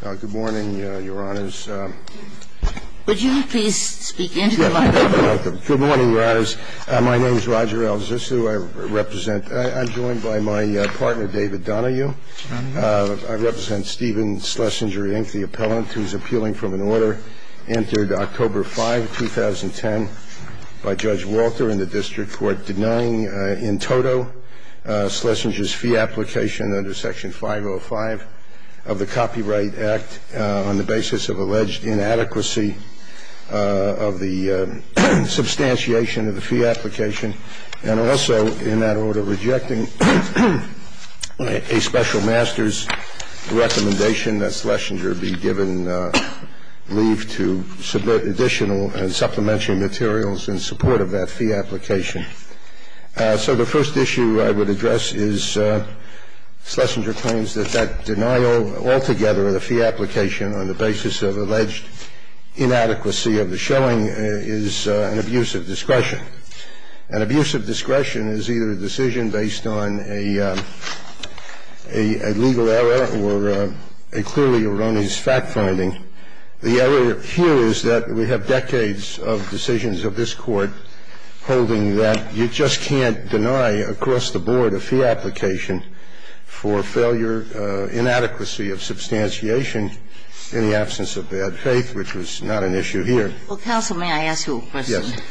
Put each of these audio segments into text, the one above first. Good morning, Your Honors. Would you please speak into the microphone? Good morning, Your Honors. My name is Roger Al-Zissou. I represent – I'm joined by my partner, David Donahue. I represent Stephen Slesinger, Inc., the appellant who is appealing from an order entered October 5, 2010, by Judge Walter in the district court denying in toto Slesinger's fee application under Section 505 of the Copyright Act on the basis of alleged inadequacy of the substantiation of the fee application and also, in that order, rejecting a special master's recommendation that Slesinger be given leave to submit additional and supplementary materials in support of that fee application. So the first issue I would address is Slesinger claims that that denial altogether of the fee application on the basis of alleged inadequacy of the showing is an abuse of discretion. An abuse of discretion is either a decision based on a legal error or a clearly erroneous fact-finding. The error here is that we have decades of decisions of this Court holding that you just can't deny across the board a fee application for failure, inadequacy of substantiation in the absence of bad faith, which was not an issue here. Well, counsel, may I ask you a question? Yes.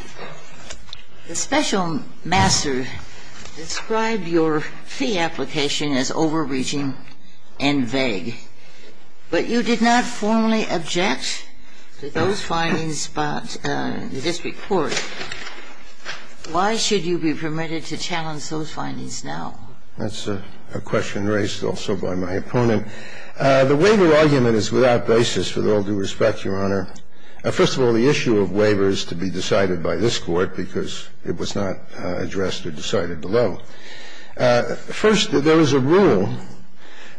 The special master described your fee application as overreaching and vague. But you did not formally object to those findings about the district court. Why should you be permitted to challenge those findings now? That's a question raised also by my opponent. The waiver argument is without basis, with all due respect, Your Honor. First of all, the issue of waiver is to be decided by this Court because it was not addressed or decided below. First, there is a rule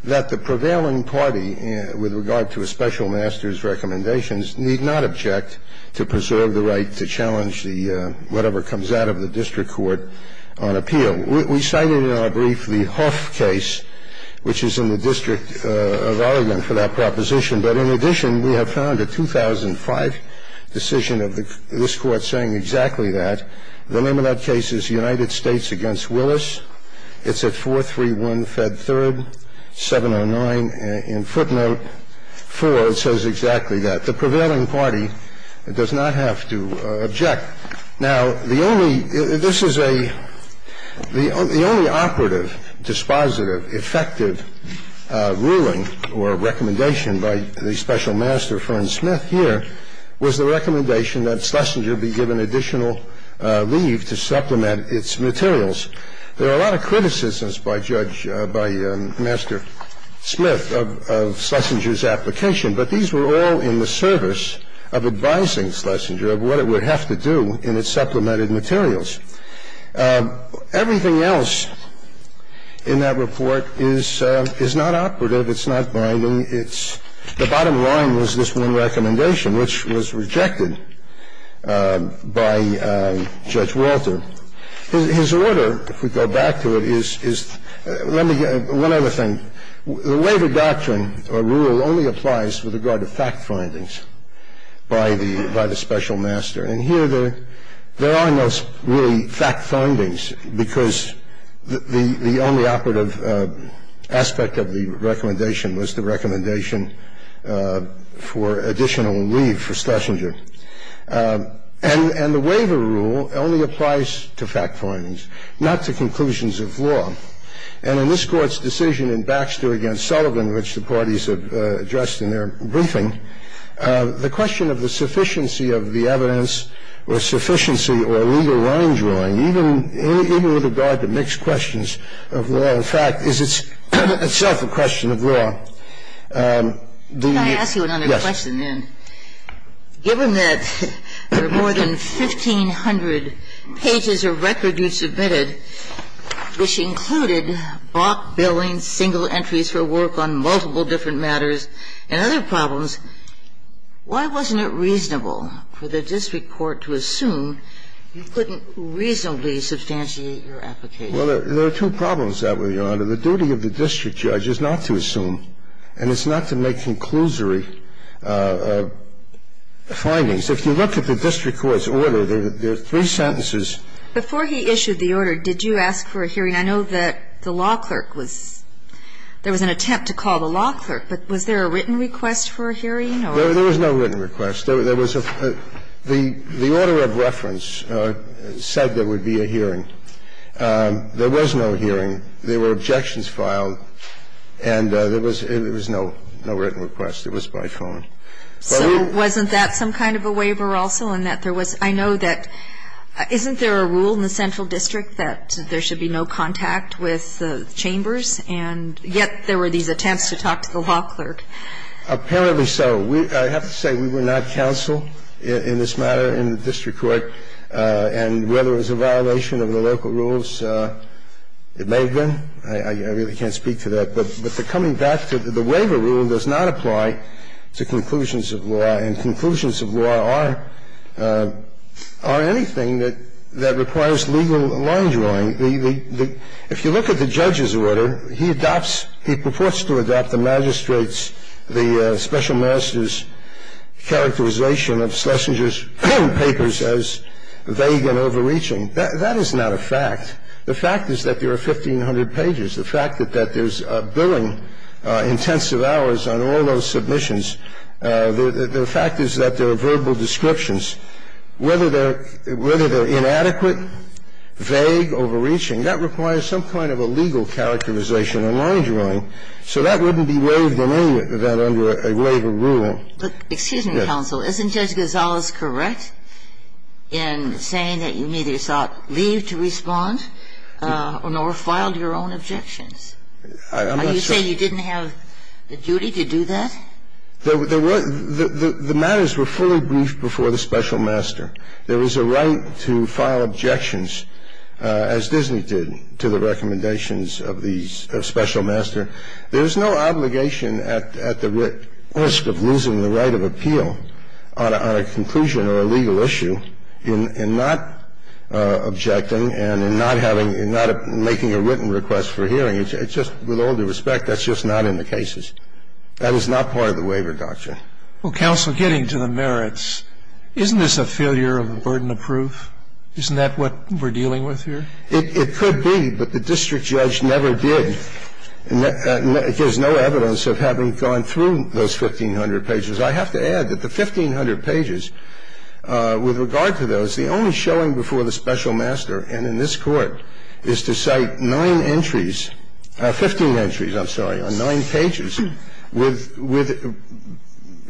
that the prevailing party with regard to a special master's recommendations need not object to preserve the right to challenge the whatever comes out of the district court on appeal. We cited in our brief the Huff case, which is in the district of Oregon for that proposition. But in addition, we have found a 2005 decision of this Court saying exactly that. The name of that case is United States against Willis. It's at 431 Fed 3rd, 709. In footnote 4, it says exactly that. The prevailing party does not have to object. Now, the only ‑‑ this is a ‑‑ the only operative, dispositive, effective ruling or recommendation by the special master, Fern Smith, here, was the recommendation that Schlesinger be given additional leave to supplement its materials. There are a lot of criticisms by Judge ‑‑ by Master Smith of Schlesinger's application, but these were all in the service of advising Schlesinger of what it would have to do in its supplemented materials. Everything else in that report is not operative. It's not binding. The bottom line was this one recommendation, which was rejected by Judge Walter. His order, if we go back to it, is ‑‑ let me ‑‑ one other thing. The waiver doctrine or rule only applies with regard to fact findings by the special master. And here there are no really fact findings because the only operative aspect of the And the waiver rule only applies to fact findings, not to conclusions of law. And in this Court's decision in Baxter v. Sullivan, which the parties have addressed in their briefing, the question of the sufficiency of the evidence or sufficiency or legal line drawing, even with regard to mixed questions of law and fact, is itself a question of law. The ‑‑ Can I ask you another question, then? Yes. Given that there are more than 1,500 pages of record you submitted, which included balk billing, single entries for work on multiple different matters, and other problems, why wasn't it reasonable for the district court to assume you couldn't reasonably substantiate your application? Well, there are two problems with that, Your Honor. The duty of the district judge is not to assume and it's not to make conclusory findings. If you look at the district court's order, there are three sentences. Before he issued the order, did you ask for a hearing? I know that the law clerk was ‑‑ there was an attempt to call the law clerk, but was there a written request for a hearing or ‑‑ There was no written request. There was a ‑‑ the order of reference said there would be a hearing. There was no hearing. There were objections filed and there was no written request. It was by phone. So wasn't that some kind of a waiver also in that there was ‑‑ I know that, isn't there a rule in the central district that there should be no contact with chambers, and yet there were these attempts to talk to the law clerk? Apparently so. I have to say we were not counsel in this matter in the district court, and whether it was a violation of the local rules, it may have been. I really can't speak to that. But the coming back to the waiver rule does not apply to conclusions of law. And conclusions of law are anything that requires legal line drawing. If you look at the judge's order, he adopts, he purports to adopt the magistrate's, characterization of Schlesinger's papers as vague and overreaching. That is not a fact. The fact is that there are 1,500 pages. The fact that there's billing intensive hours on all those submissions, the fact is that there are verbal descriptions. Whether they're inadequate, vague, overreaching, that requires some kind of a legal characterization or line drawing. So that wouldn't be waived in any event under a waiver rule. But excuse me, counsel. Isn't Judge Gonzalez correct in saying that you neither sought leave to respond nor filed your own objections? I'm not sure. Are you saying you didn't have the duty to do that? There were the matters were fully briefed before the special master. There was a right to file objections, as Disney did, to the recommendations of the special master. There's no obligation at the risk of losing the right of appeal on a conclusion or a legal issue in not objecting and in not having, in not making a written request for hearing. It's just, with all due respect, that's just not in the cases. That is not part of the waiver doctrine. Well, counsel, getting to the merits, isn't this a failure of a burden of proof? Isn't that what we're dealing with here? It could be, but the district judge never did. There's no evidence of having gone through those 1,500 pages. I have to add that the 1,500 pages, with regard to those, the only showing before the special master, and in this Court, is to cite nine entries, 15 entries, I'm sorry, on nine pages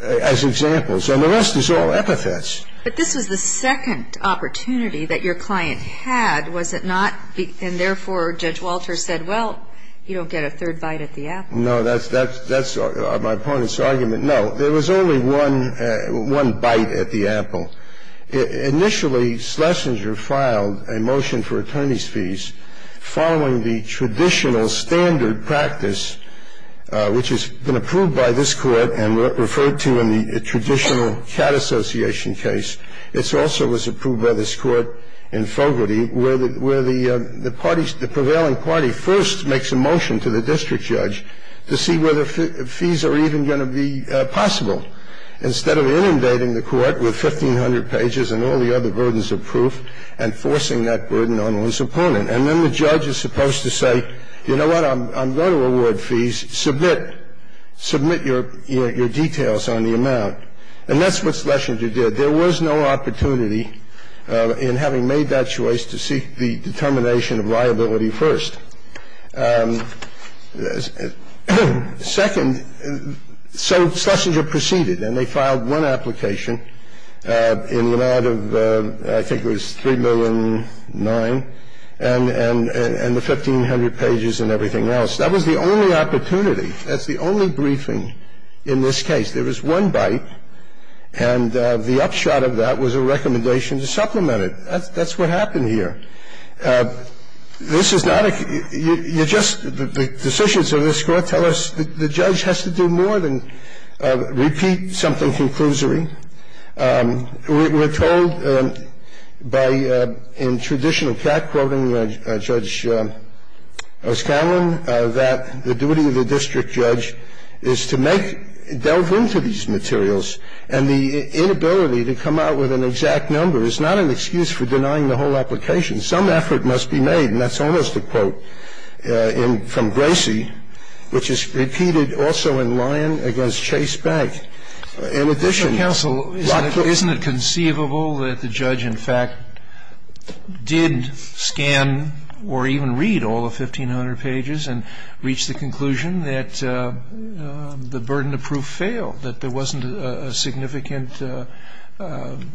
as examples. And the rest is all epithets. But this was the second opportunity that your client had, was it not? And therefore, Judge Walter said, well, you don't get a third bite at the apple. No. That's my opponent's argument. No. There was only one bite at the apple. Initially, Schlesinger filed a motion for attorney's fees following the traditional standard practice, which has been approved by this Court and referred to in the traditional CAT association case. It also was approved by this Court in Fogarty, where the parties, the prevailing party first makes a motion to the district judge to see whether fees are even going to be possible. Instead of inundating the Court with 1,500 pages and all the other burdens of proof and forcing that burden on his opponent. And then the judge is supposed to say, you know what, I'm going to award fees. Submit. Submit your details on the amount. And that's what Schlesinger did. There was no opportunity in having made that choice to seek the determination of liability first. Second, so Schlesinger proceeded, and they filed one application in the amount of, I think it was 3,000,009, and the 1,500 pages and everything else. That was the only opportunity. That's the only briefing in this case. There was one bite, and the upshot of that was a recommendation to supplement it. That's what happened here. This is not a ‑‑ you just ‑‑ the decisions of this Court tell us the judge has to do more than repeat something conclusory. We're told by, in traditional CAT, quoting Judge O'Scanlan, that the duty of the district judge is to make ‑‑ delve into these materials. And the inability to come out with an exact number is not an excuse for denying the whole application. Some effort must be made, and that's almost a quote from Gracie, which is repeated also in Lyon against Chase Bank. In addition ‑‑ Mr. Counsel, isn't it conceivable that the judge, in fact, did scan or even read all 1,500 pages and reached the conclusion that the burden of proof failed, that there wasn't a significant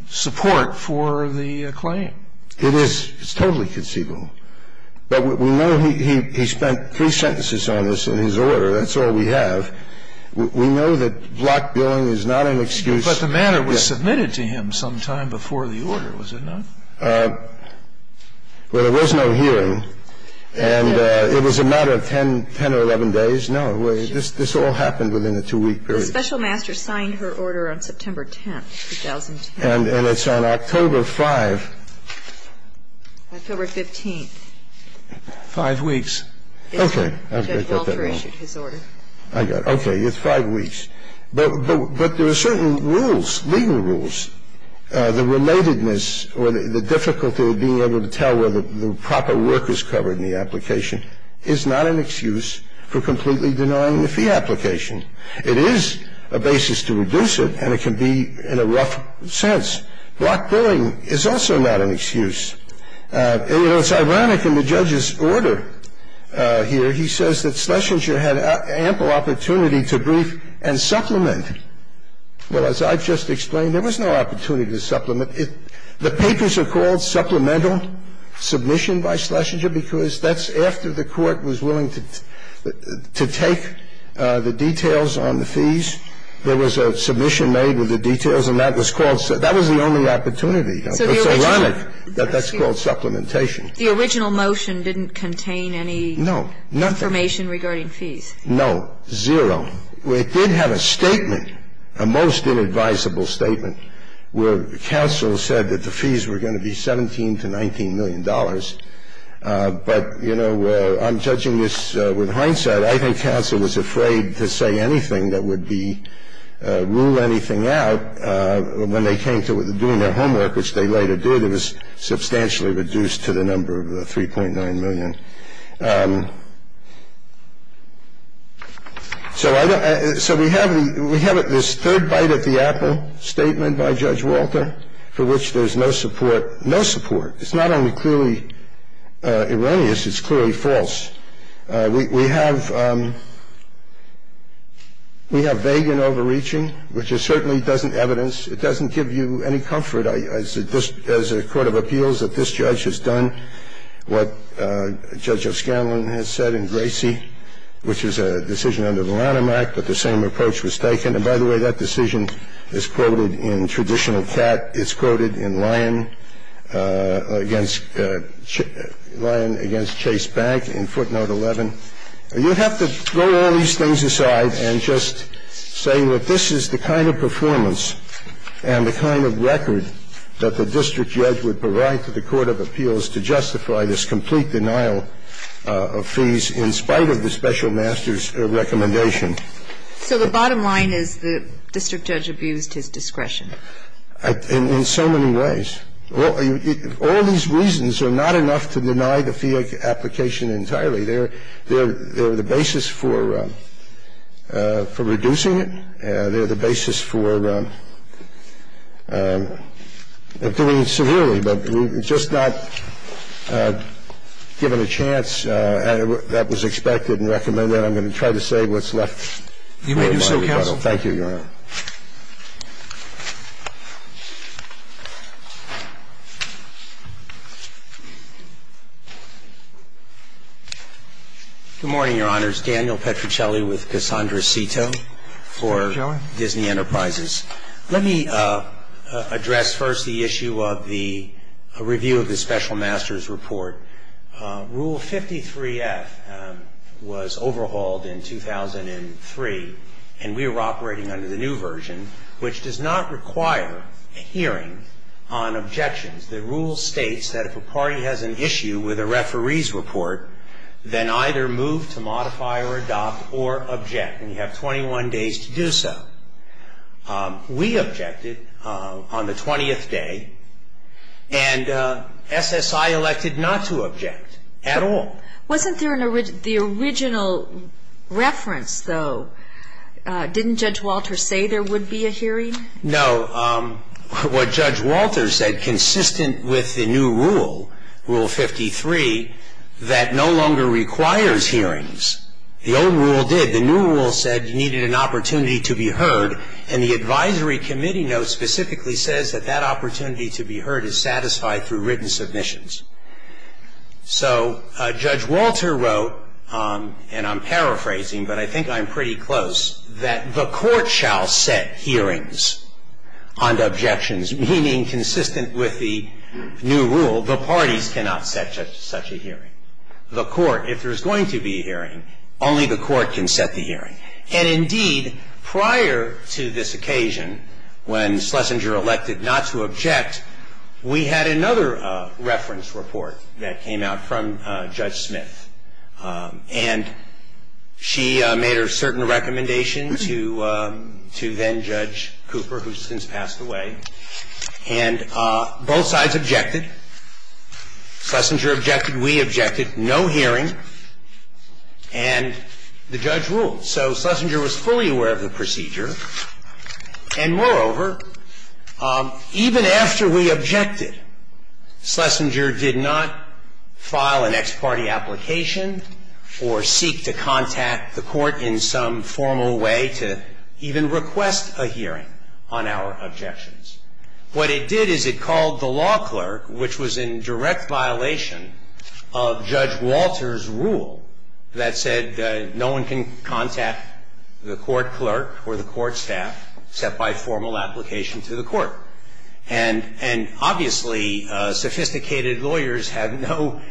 support for the claim? It is. It's totally conceivable. But we know he spent three sentences on this in his order. That's all we have. We know that block billing is not an excuse. But the matter was submitted to him sometime before the order, was it not? Well, there was no hearing. And it was a matter of 10 or 11 days. No, this all happened within a two‑week period. The special master signed her order on September 10th, 2010. And it's on October 5th. October 15th. Five weeks. Okay. Judge Walter issued his order. I got it. Okay. It's five weeks. But there are certain rules, legal rules. The relatedness or the difficulty of being able to tell whether the proper work is covered in the application is not an excuse for completely denying the fee application. It is a basis to reduce it, and it can be in a rough sense. Block billing is also not an excuse. It's ironic in the judge's order here, he says that Schlesinger had ample opportunity to brief and supplement. Well, as I've just explained, there was no opportunity to supplement. The papers are called supplemental submission by Schlesinger because that's after the court was willing to take the details on the fees. There was a submission made with the details, and that was called ‑‑ that was the only opportunity. It's ironic that that's called supplementation. The original motion didn't contain any information regarding fees. No, nothing. No, zero. It did have a statement, a most inadvisable statement, where counsel said that the fees were going to be $17 to $19 million. But, you know, I'm judging this with hindsight. I think counsel was afraid to say anything that would be ‑‑ rule anything out when they came to doing their homework, which they later did. It was substantially reduced to the number of 3.9 million. So we have this third bite at the apple statement by Judge Walter, for which there's no support. No support. It's not only clearly erroneous, it's clearly false. We have vague and overreaching, which it certainly doesn't evidence. It doesn't give you any comfort as a court of appeals that this judge has done what, as Judge O'Scanlan has said in Gracie, which was a decision under the Lanham Act, that the same approach was taken. And, by the way, that decision is quoted in traditional cat. It's quoted in Lion against Chase Bank in footnote 11. You have to throw all these things aside and just say that this is the kind of performance and the kind of record that the district judge would provide to the court of appeals to justify this complete denial of fees in spite of the special master's recommendation. So the bottom line is the district judge abused his discretion. In so many ways. All these reasons are not enough to deny the fee application entirely. They're the basis for reducing it. They're the basis for doing it severely, but we've just not given a chance. That was expected and recommended. I'm going to try to say what's left. You may do so, counsel. Thank you, Your Honor. Good morning, Your Honors. Daniel Petruccelli with Cassandra Cito for Disney Enterprises. Let me address first the issue of the review of the special master's report. Rule 53F was overhauled in 2003, and we were operating under the new version, which does not require a hearing on objections. The rule states that if a party has an issue with a referee's report, then either move to modify or adopt or object, and you have 21 days to do so. We objected on the 20th day, and SSI elected not to object at all. Wasn't there the original reference, though? Didn't Judge Walter say there would be a hearing? No. What Judge Walter said, consistent with the new rule, Rule 53, that no longer requires hearings. The old rule did. The new rule said you needed an opportunity to be heard, and the advisory committee note specifically says that that opportunity to be heard is satisfied through written submissions. So Judge Walter wrote, and I'm paraphrasing, but I think I'm pretty close, that the court shall set hearings on objections, meaning consistent with the new rule, the parties cannot set such a hearing. The court, if there's going to be a hearing, only the court can set the hearing. And indeed, prior to this occasion, when Schlesinger elected not to object, we had another reference report that came out from Judge Smith. And she made a certain recommendation to then-Judge Cooper, who's since passed away, and both sides objected. Schlesinger objected. We objected. No hearing. And the judge ruled. So Schlesinger was fully aware of the procedure. And moreover, even after we objected, Schlesinger did not file an ex parte application or seek to contact the court in some formal way to even request a hearing on our objections. What it did is it called the law clerk, which was in direct violation of Judge Walter's rule, that said no one can contact the court clerk or the court staff except by formal application to the court. And obviously, sophisticated lawyers have no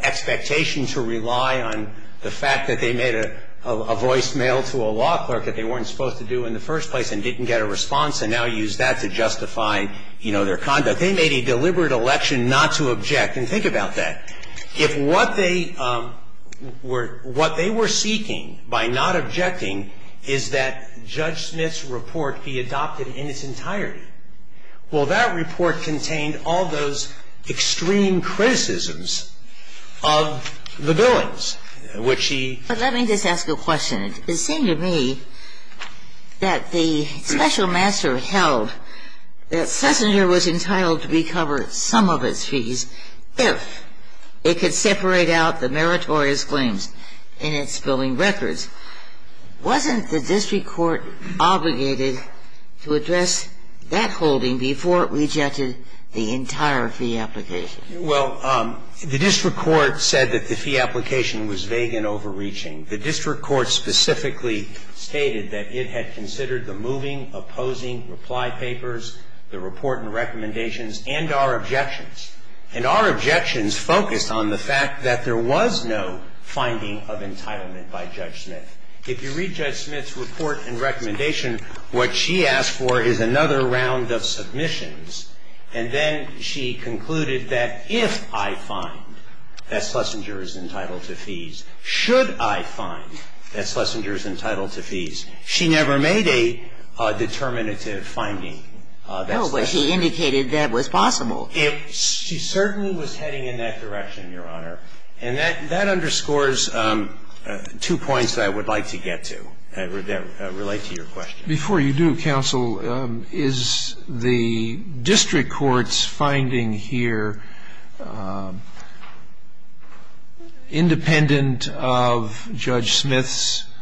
expectation to rely on the fact that they made a voicemail to a law clerk that they weren't supposed to do in the first place and didn't get a response and now use that to justify, you know, their conduct. They made a deliberate election not to object. And think about that. If what they were seeking by not objecting is that Judge Smith's report be adopted in its entirety, well, that report contained all those extreme criticisms of the billings, which he ---- But let me just ask a question. It seemed to me that the special master held that Schlesinger was entitled to recover some of its fees if it could separate out the meritorious claims in its billing records. Wasn't the district court obligated to address that holding before it rejected the entire fee application? Well, the district court said that the fee application was vague and overreaching. The district court specifically stated that it had considered the moving, opposing, reply papers, the report and recommendations, and our objections. And our objections focused on the fact that there was no finding of entitlement by Judge Smith. If you read Judge Smith's report and recommendation, what she asked for is another round of submissions, and then she concluded that if I find that Schlesinger is entitled to fees, should I find that Schlesinger is entitled to fees, she never made a determinative finding. No, but she indicated that was possible. She certainly was heading in that direction, Your Honor. And that underscores two points that I would like to get to that relate to your question. Before you do, counsel, is the district court's finding here independent of Judge Smith's finding?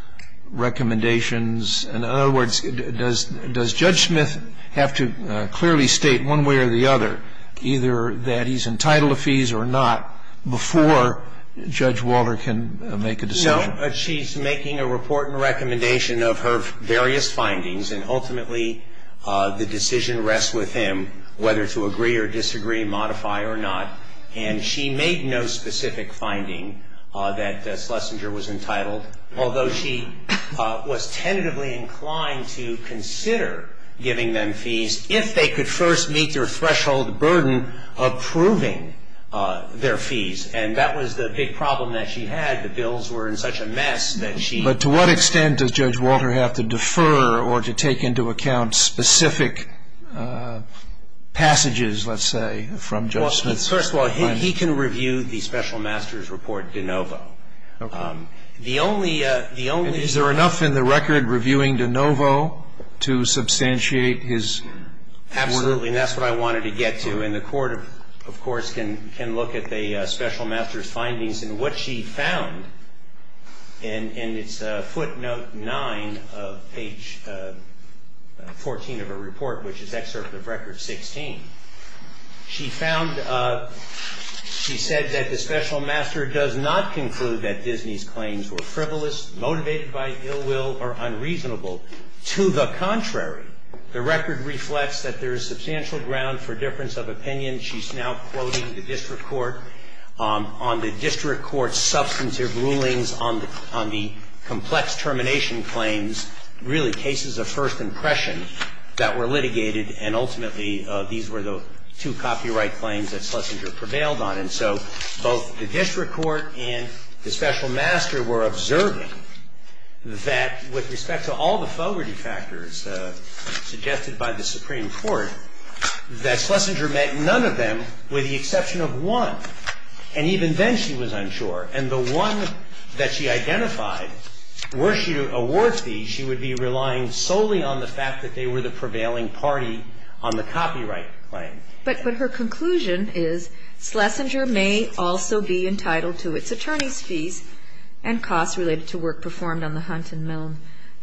In other words, does Judge Smith have to clearly state one way or the other, either that he's entitled to fees or not, before Judge Walter can make a decision? No. She's making a report and recommendation of her various findings, and ultimately the decision rests with him whether to agree or disagree, modify or not. And she made no specific finding that Schlesinger was entitled, although she was tentatively inclined to consider giving them fees, if they could first meet their threshold burden approving their fees. And that was the big problem that she had. The bills were in such a mess that she... But to what extent does Judge Walter have to defer or to take into account specific passages, let's say, from Judge Smith's findings? Well, first of all, he can review the special master's report de novo. Okay. The only... And is there enough in the record reviewing de novo to substantiate his... Absolutely. And that's what I wanted to get to. And the court, of course, can look at the special master's findings. And what she found, and it's footnote 9 of page 14 of her report, which is excerpt of record 16. She found... She said that the special master does not conclude that Disney's claims were frivolous, motivated by ill will, or unreasonable. To the contrary, the record reflects that there is substantial ground for difference of opinion. She's now quoting the district court on the district court's substantive rulings on the complex termination claims, really cases of first impression that were litigated and ultimately these were the two copyright claims that Schlesinger prevailed on. And so both the district court and the special master were observing that with respect to all the fogerty factors suggested by the Supreme Court, that Schlesinger met none of them with the exception of one. And even then she was unsure. And the one that she identified, were she to award these, she would be relying solely on the fact that they were the prevailing party on the copyright claim. But her conclusion is Schlesinger may also be entitled to its attorney's fees and costs related to work performed on the Hunt and Milne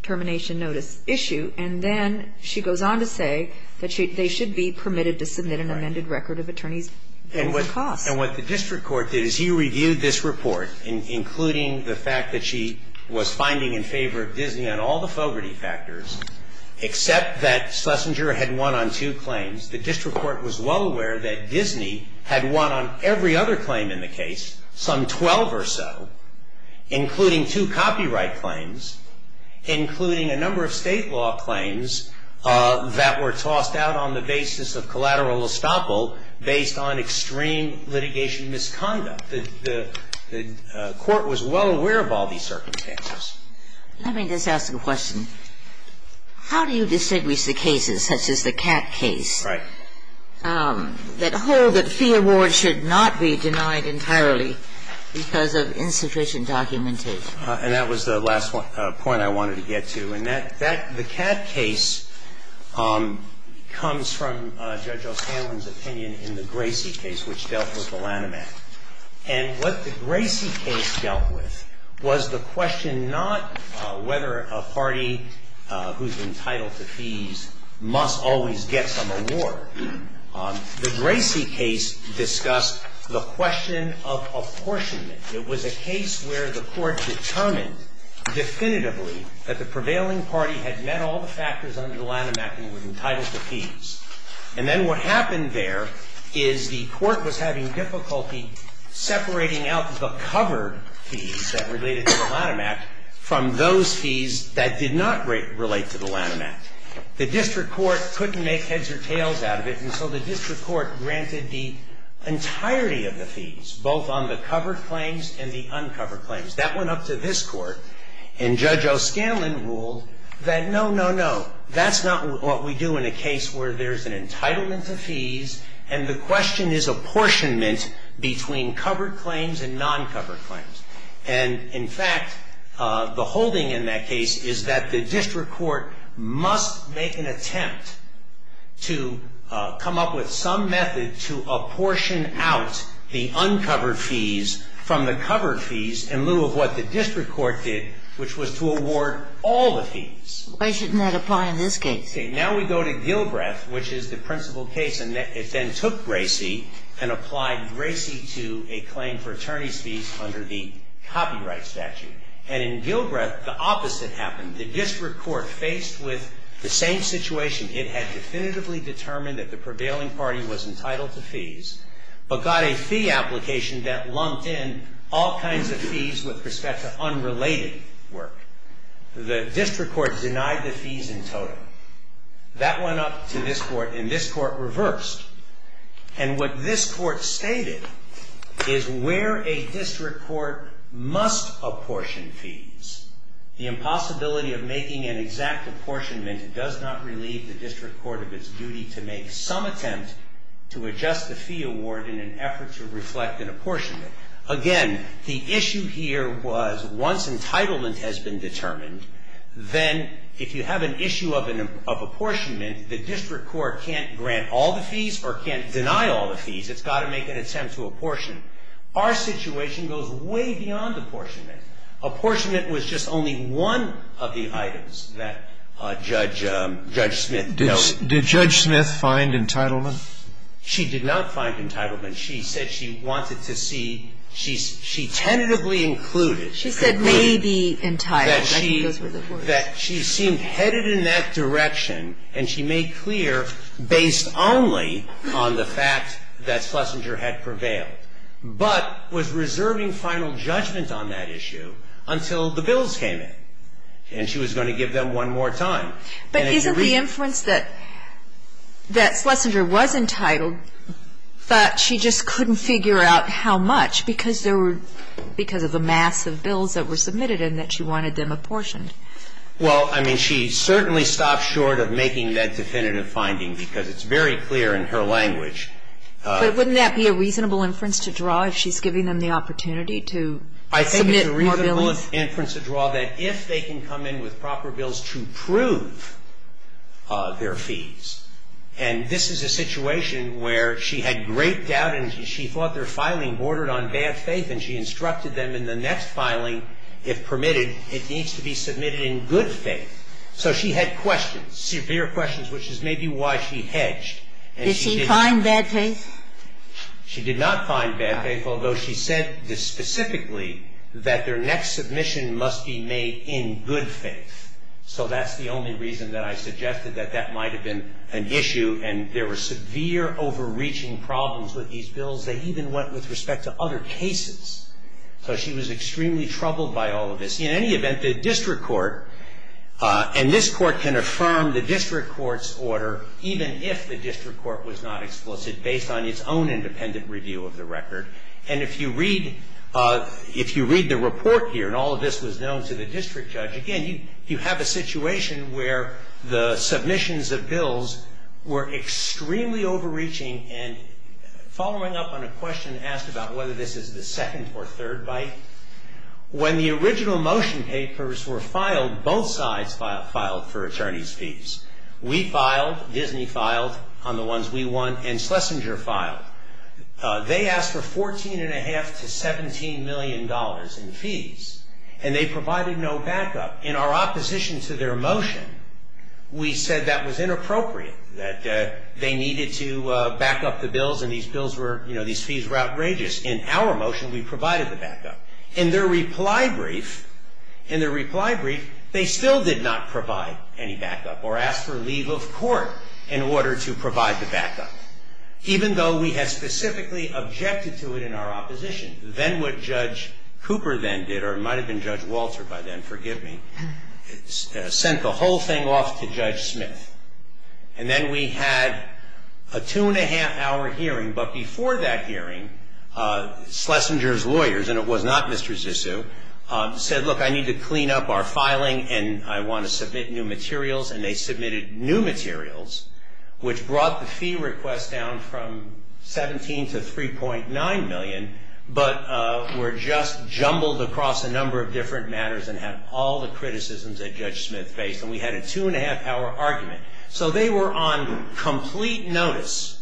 termination notice issue. And then she goes on to say that they should be permitted to submit an amended record of attorney's fees and costs. And what the district court did is he reviewed this report, including the fact that she was finding in favor of Disney on all the fogerty factors, except that Schlesinger had won on two claims. The district court was well aware that Disney had won on every other claim in the case, some 12 or so, including two copyright claims, including a number of state law claims that were tossed out on the basis of collateral estoppel based on extreme litigation misconduct. The court was well aware of all these circumstances. Let me just ask a question. How do you distinguish the cases, such as the Catt case? Right. That hold that fee awards should not be denied entirely because of insufficient documentation? And that was the last point I wanted to get to. And that the Catt case comes from Judge O'Hanlon's opinion in the Gracie case, which dealt with the Lanham Act. And what the Gracie case dealt with was the question not whether a party who's entitled to fees must always get some award. The Gracie case discussed the question of apportionment. It was a case where the court determined definitively that the prevailing party had met all the factors under the Lanham Act and were entitled to fees. And then what happened there is the court was having difficulty separating out the covered fees that related to the Lanham Act from those fees that did not relate to the Lanham Act. The district court couldn't make heads or tails out of it, and so the district court granted the entirety of the fees, both on the covered claims and the uncovered claims. That went up to this court. And Judge O'Scanlan ruled that, no, no, no, that's not what we do in a case where there's an entitlement to fees and the question is apportionment between covered claims and non-covered claims. And, in fact, the holding in that case is that the district court must make an attempt to come up with some method to apportion out the uncovered fees from the covered fees in lieu of what the district court did, which was to award all the fees. Why shouldn't that apply in this case? See, now we go to Gilbreth, which is the principal case, and it then took Gracie and applied Gracie to a claim for attorney's fees under the copyright statute. And in Gilbreth, the opposite happened. The district court, faced with the same situation, it had definitively determined that the prevailing party was entitled to fees, but got a fee application that lumped in all kinds of fees with respect to unrelated work. The district court denied the fees in total. That went up to this court, and this court reversed. And what this court stated is where a district court must apportion fees, the impossibility of making an exact apportionment does not relieve the district court of its duty to make some attempt to adjust the fee award in an effort to reflect an apportionment. Again, the issue here was once entitlement has been determined, then if you have an issue of apportionment, the district court can't grant all the fees or can't deny all the fees. It's got to make an attempt to apportion. Our situation goes way beyond apportionment. Apportionment was just only one of the items that Judge Smith noted. Did Judge Smith find entitlement? She did not find entitlement. She said she wanted to see, she tentatively included, she concluded that she seemed headed in that direction, and she made clear based only on the fact that Schlesinger had prevailed, but was reserving final judgment on that issue until the bills came in. And she was going to give them one more time. But isn't the inference that Schlesinger was entitled, but she just couldn't figure out how much because there were, because of the mass of bills that were submitted and that she wanted them apportioned? Well, I mean, she certainly stopped short of making that definitive finding because it's very clear in her language. But wouldn't that be a reasonable inference to draw if she's giving them the opportunity to submit more bills? I think that's a reasonable inference to draw that if they can come in with proper bills to prove their fees, and this is a situation where she had great doubt and she thought their filing bordered on bad faith and she instructed them in the next filing if permitted, it needs to be submitted in good faith. So she had questions, severe questions, which is maybe why she hedged. Did she find bad faith? She did not find bad faith, although she said specifically that their next submission must be made in good faith. So that's the only reason that I suggested that that might have been an issue. And there were severe overreaching problems with these bills. They even went with respect to other cases. So she was extremely troubled by all of this. In any event, the district court, and this court can affirm the district court's own independent review of the record. And if you read the report here, and all of this was known to the district judge, again, you have a situation where the submissions of bills were extremely overreaching. And following up on a question asked about whether this is the second or third bite, when the original motion papers were filed, both sides filed for attorney's fees. We filed, Disney filed on the ones we won, and Schlesinger filed. They asked for $14.5 to $17 million in fees, and they provided no backup. In our opposition to their motion, we said that was inappropriate, that they needed to back up the bills, and these bills were, you know, these fees were outrageous. In our motion, we provided the backup. In their reply brief, in their reply brief, they still did not provide any backup or ask for leave of court in order to provide the backup, even though we had specifically objected to it in our opposition. Then what Judge Cooper then did, or it might have been Judge Walter by then, forgive me, sent the whole thing off to Judge Smith. And then we had a two-and-a-half-hour hearing, but before that hearing, Schlesinger's lawyers, and it was not Mr. Zissou, said, look, I need to clean up our filing and I want to submit new materials, and they submitted new materials, which brought the fee request down from $17 to $3.9 million, but were just jumbled across a number of different matters and had all the criticisms that Judge Smith faced, and we had a two-and-a-half-hour argument. So they were on complete notice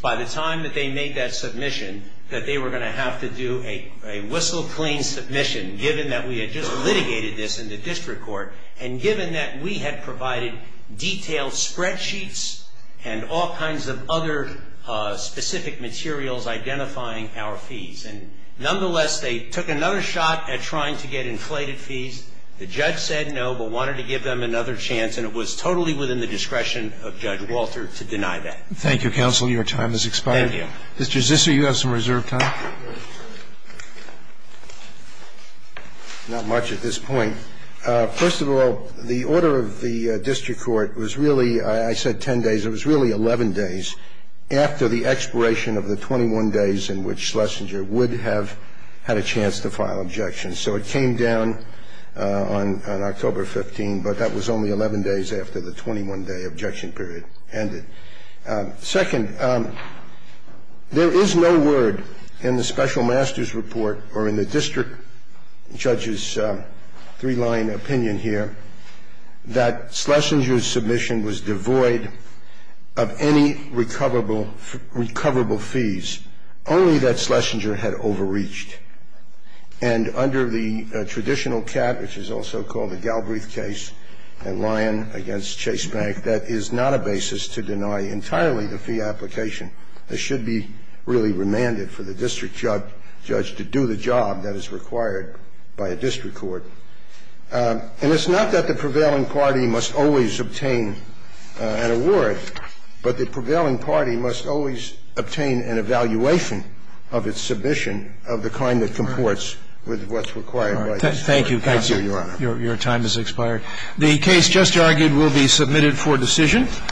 by the time that they made that submission that they were going to have to do a whistle-clean submission, given that we had just litigated this in the district court, and given that we had provided detailed spreadsheets and all kinds of other specific materials identifying our fees. And nonetheless, they took another shot at trying to get inflated fees. The judge said no, but wanted to give them another chance, and it was totally within the discretion of Judge Walter to deny that. Thank you, counsel. Your time has expired. Thank you. Mr. Zissou, you have some reserved time. Not much at this point. First of all, the order of the district court was really, I said 10 days, it was really 11 days after the expiration of the 21 days in which Schlesinger would have had a chance to file objections. So it came down on October 15, but that was only 11 days after the 21-day objection period ended. Second, there is no word in the special master's report or in the district judge's three-line opinion here that Schlesinger's submission was devoid of any recoverable fees, only that Schlesinger had overreached. And under the traditional cap, which is also called the Galbraith case, and Lyon against Chase Bank, that is not a basis to deny entirely the fee application. It should be really remanded for the district judge to do the job that is required by a district court. And it's not that the prevailing party must always obtain an award, but the prevailing party must always obtain an evaluation of its submission of the kind that comports with what's required by the district court. Thank you, Your Honor. Your time has expired. The case just argued will be submitted for decision.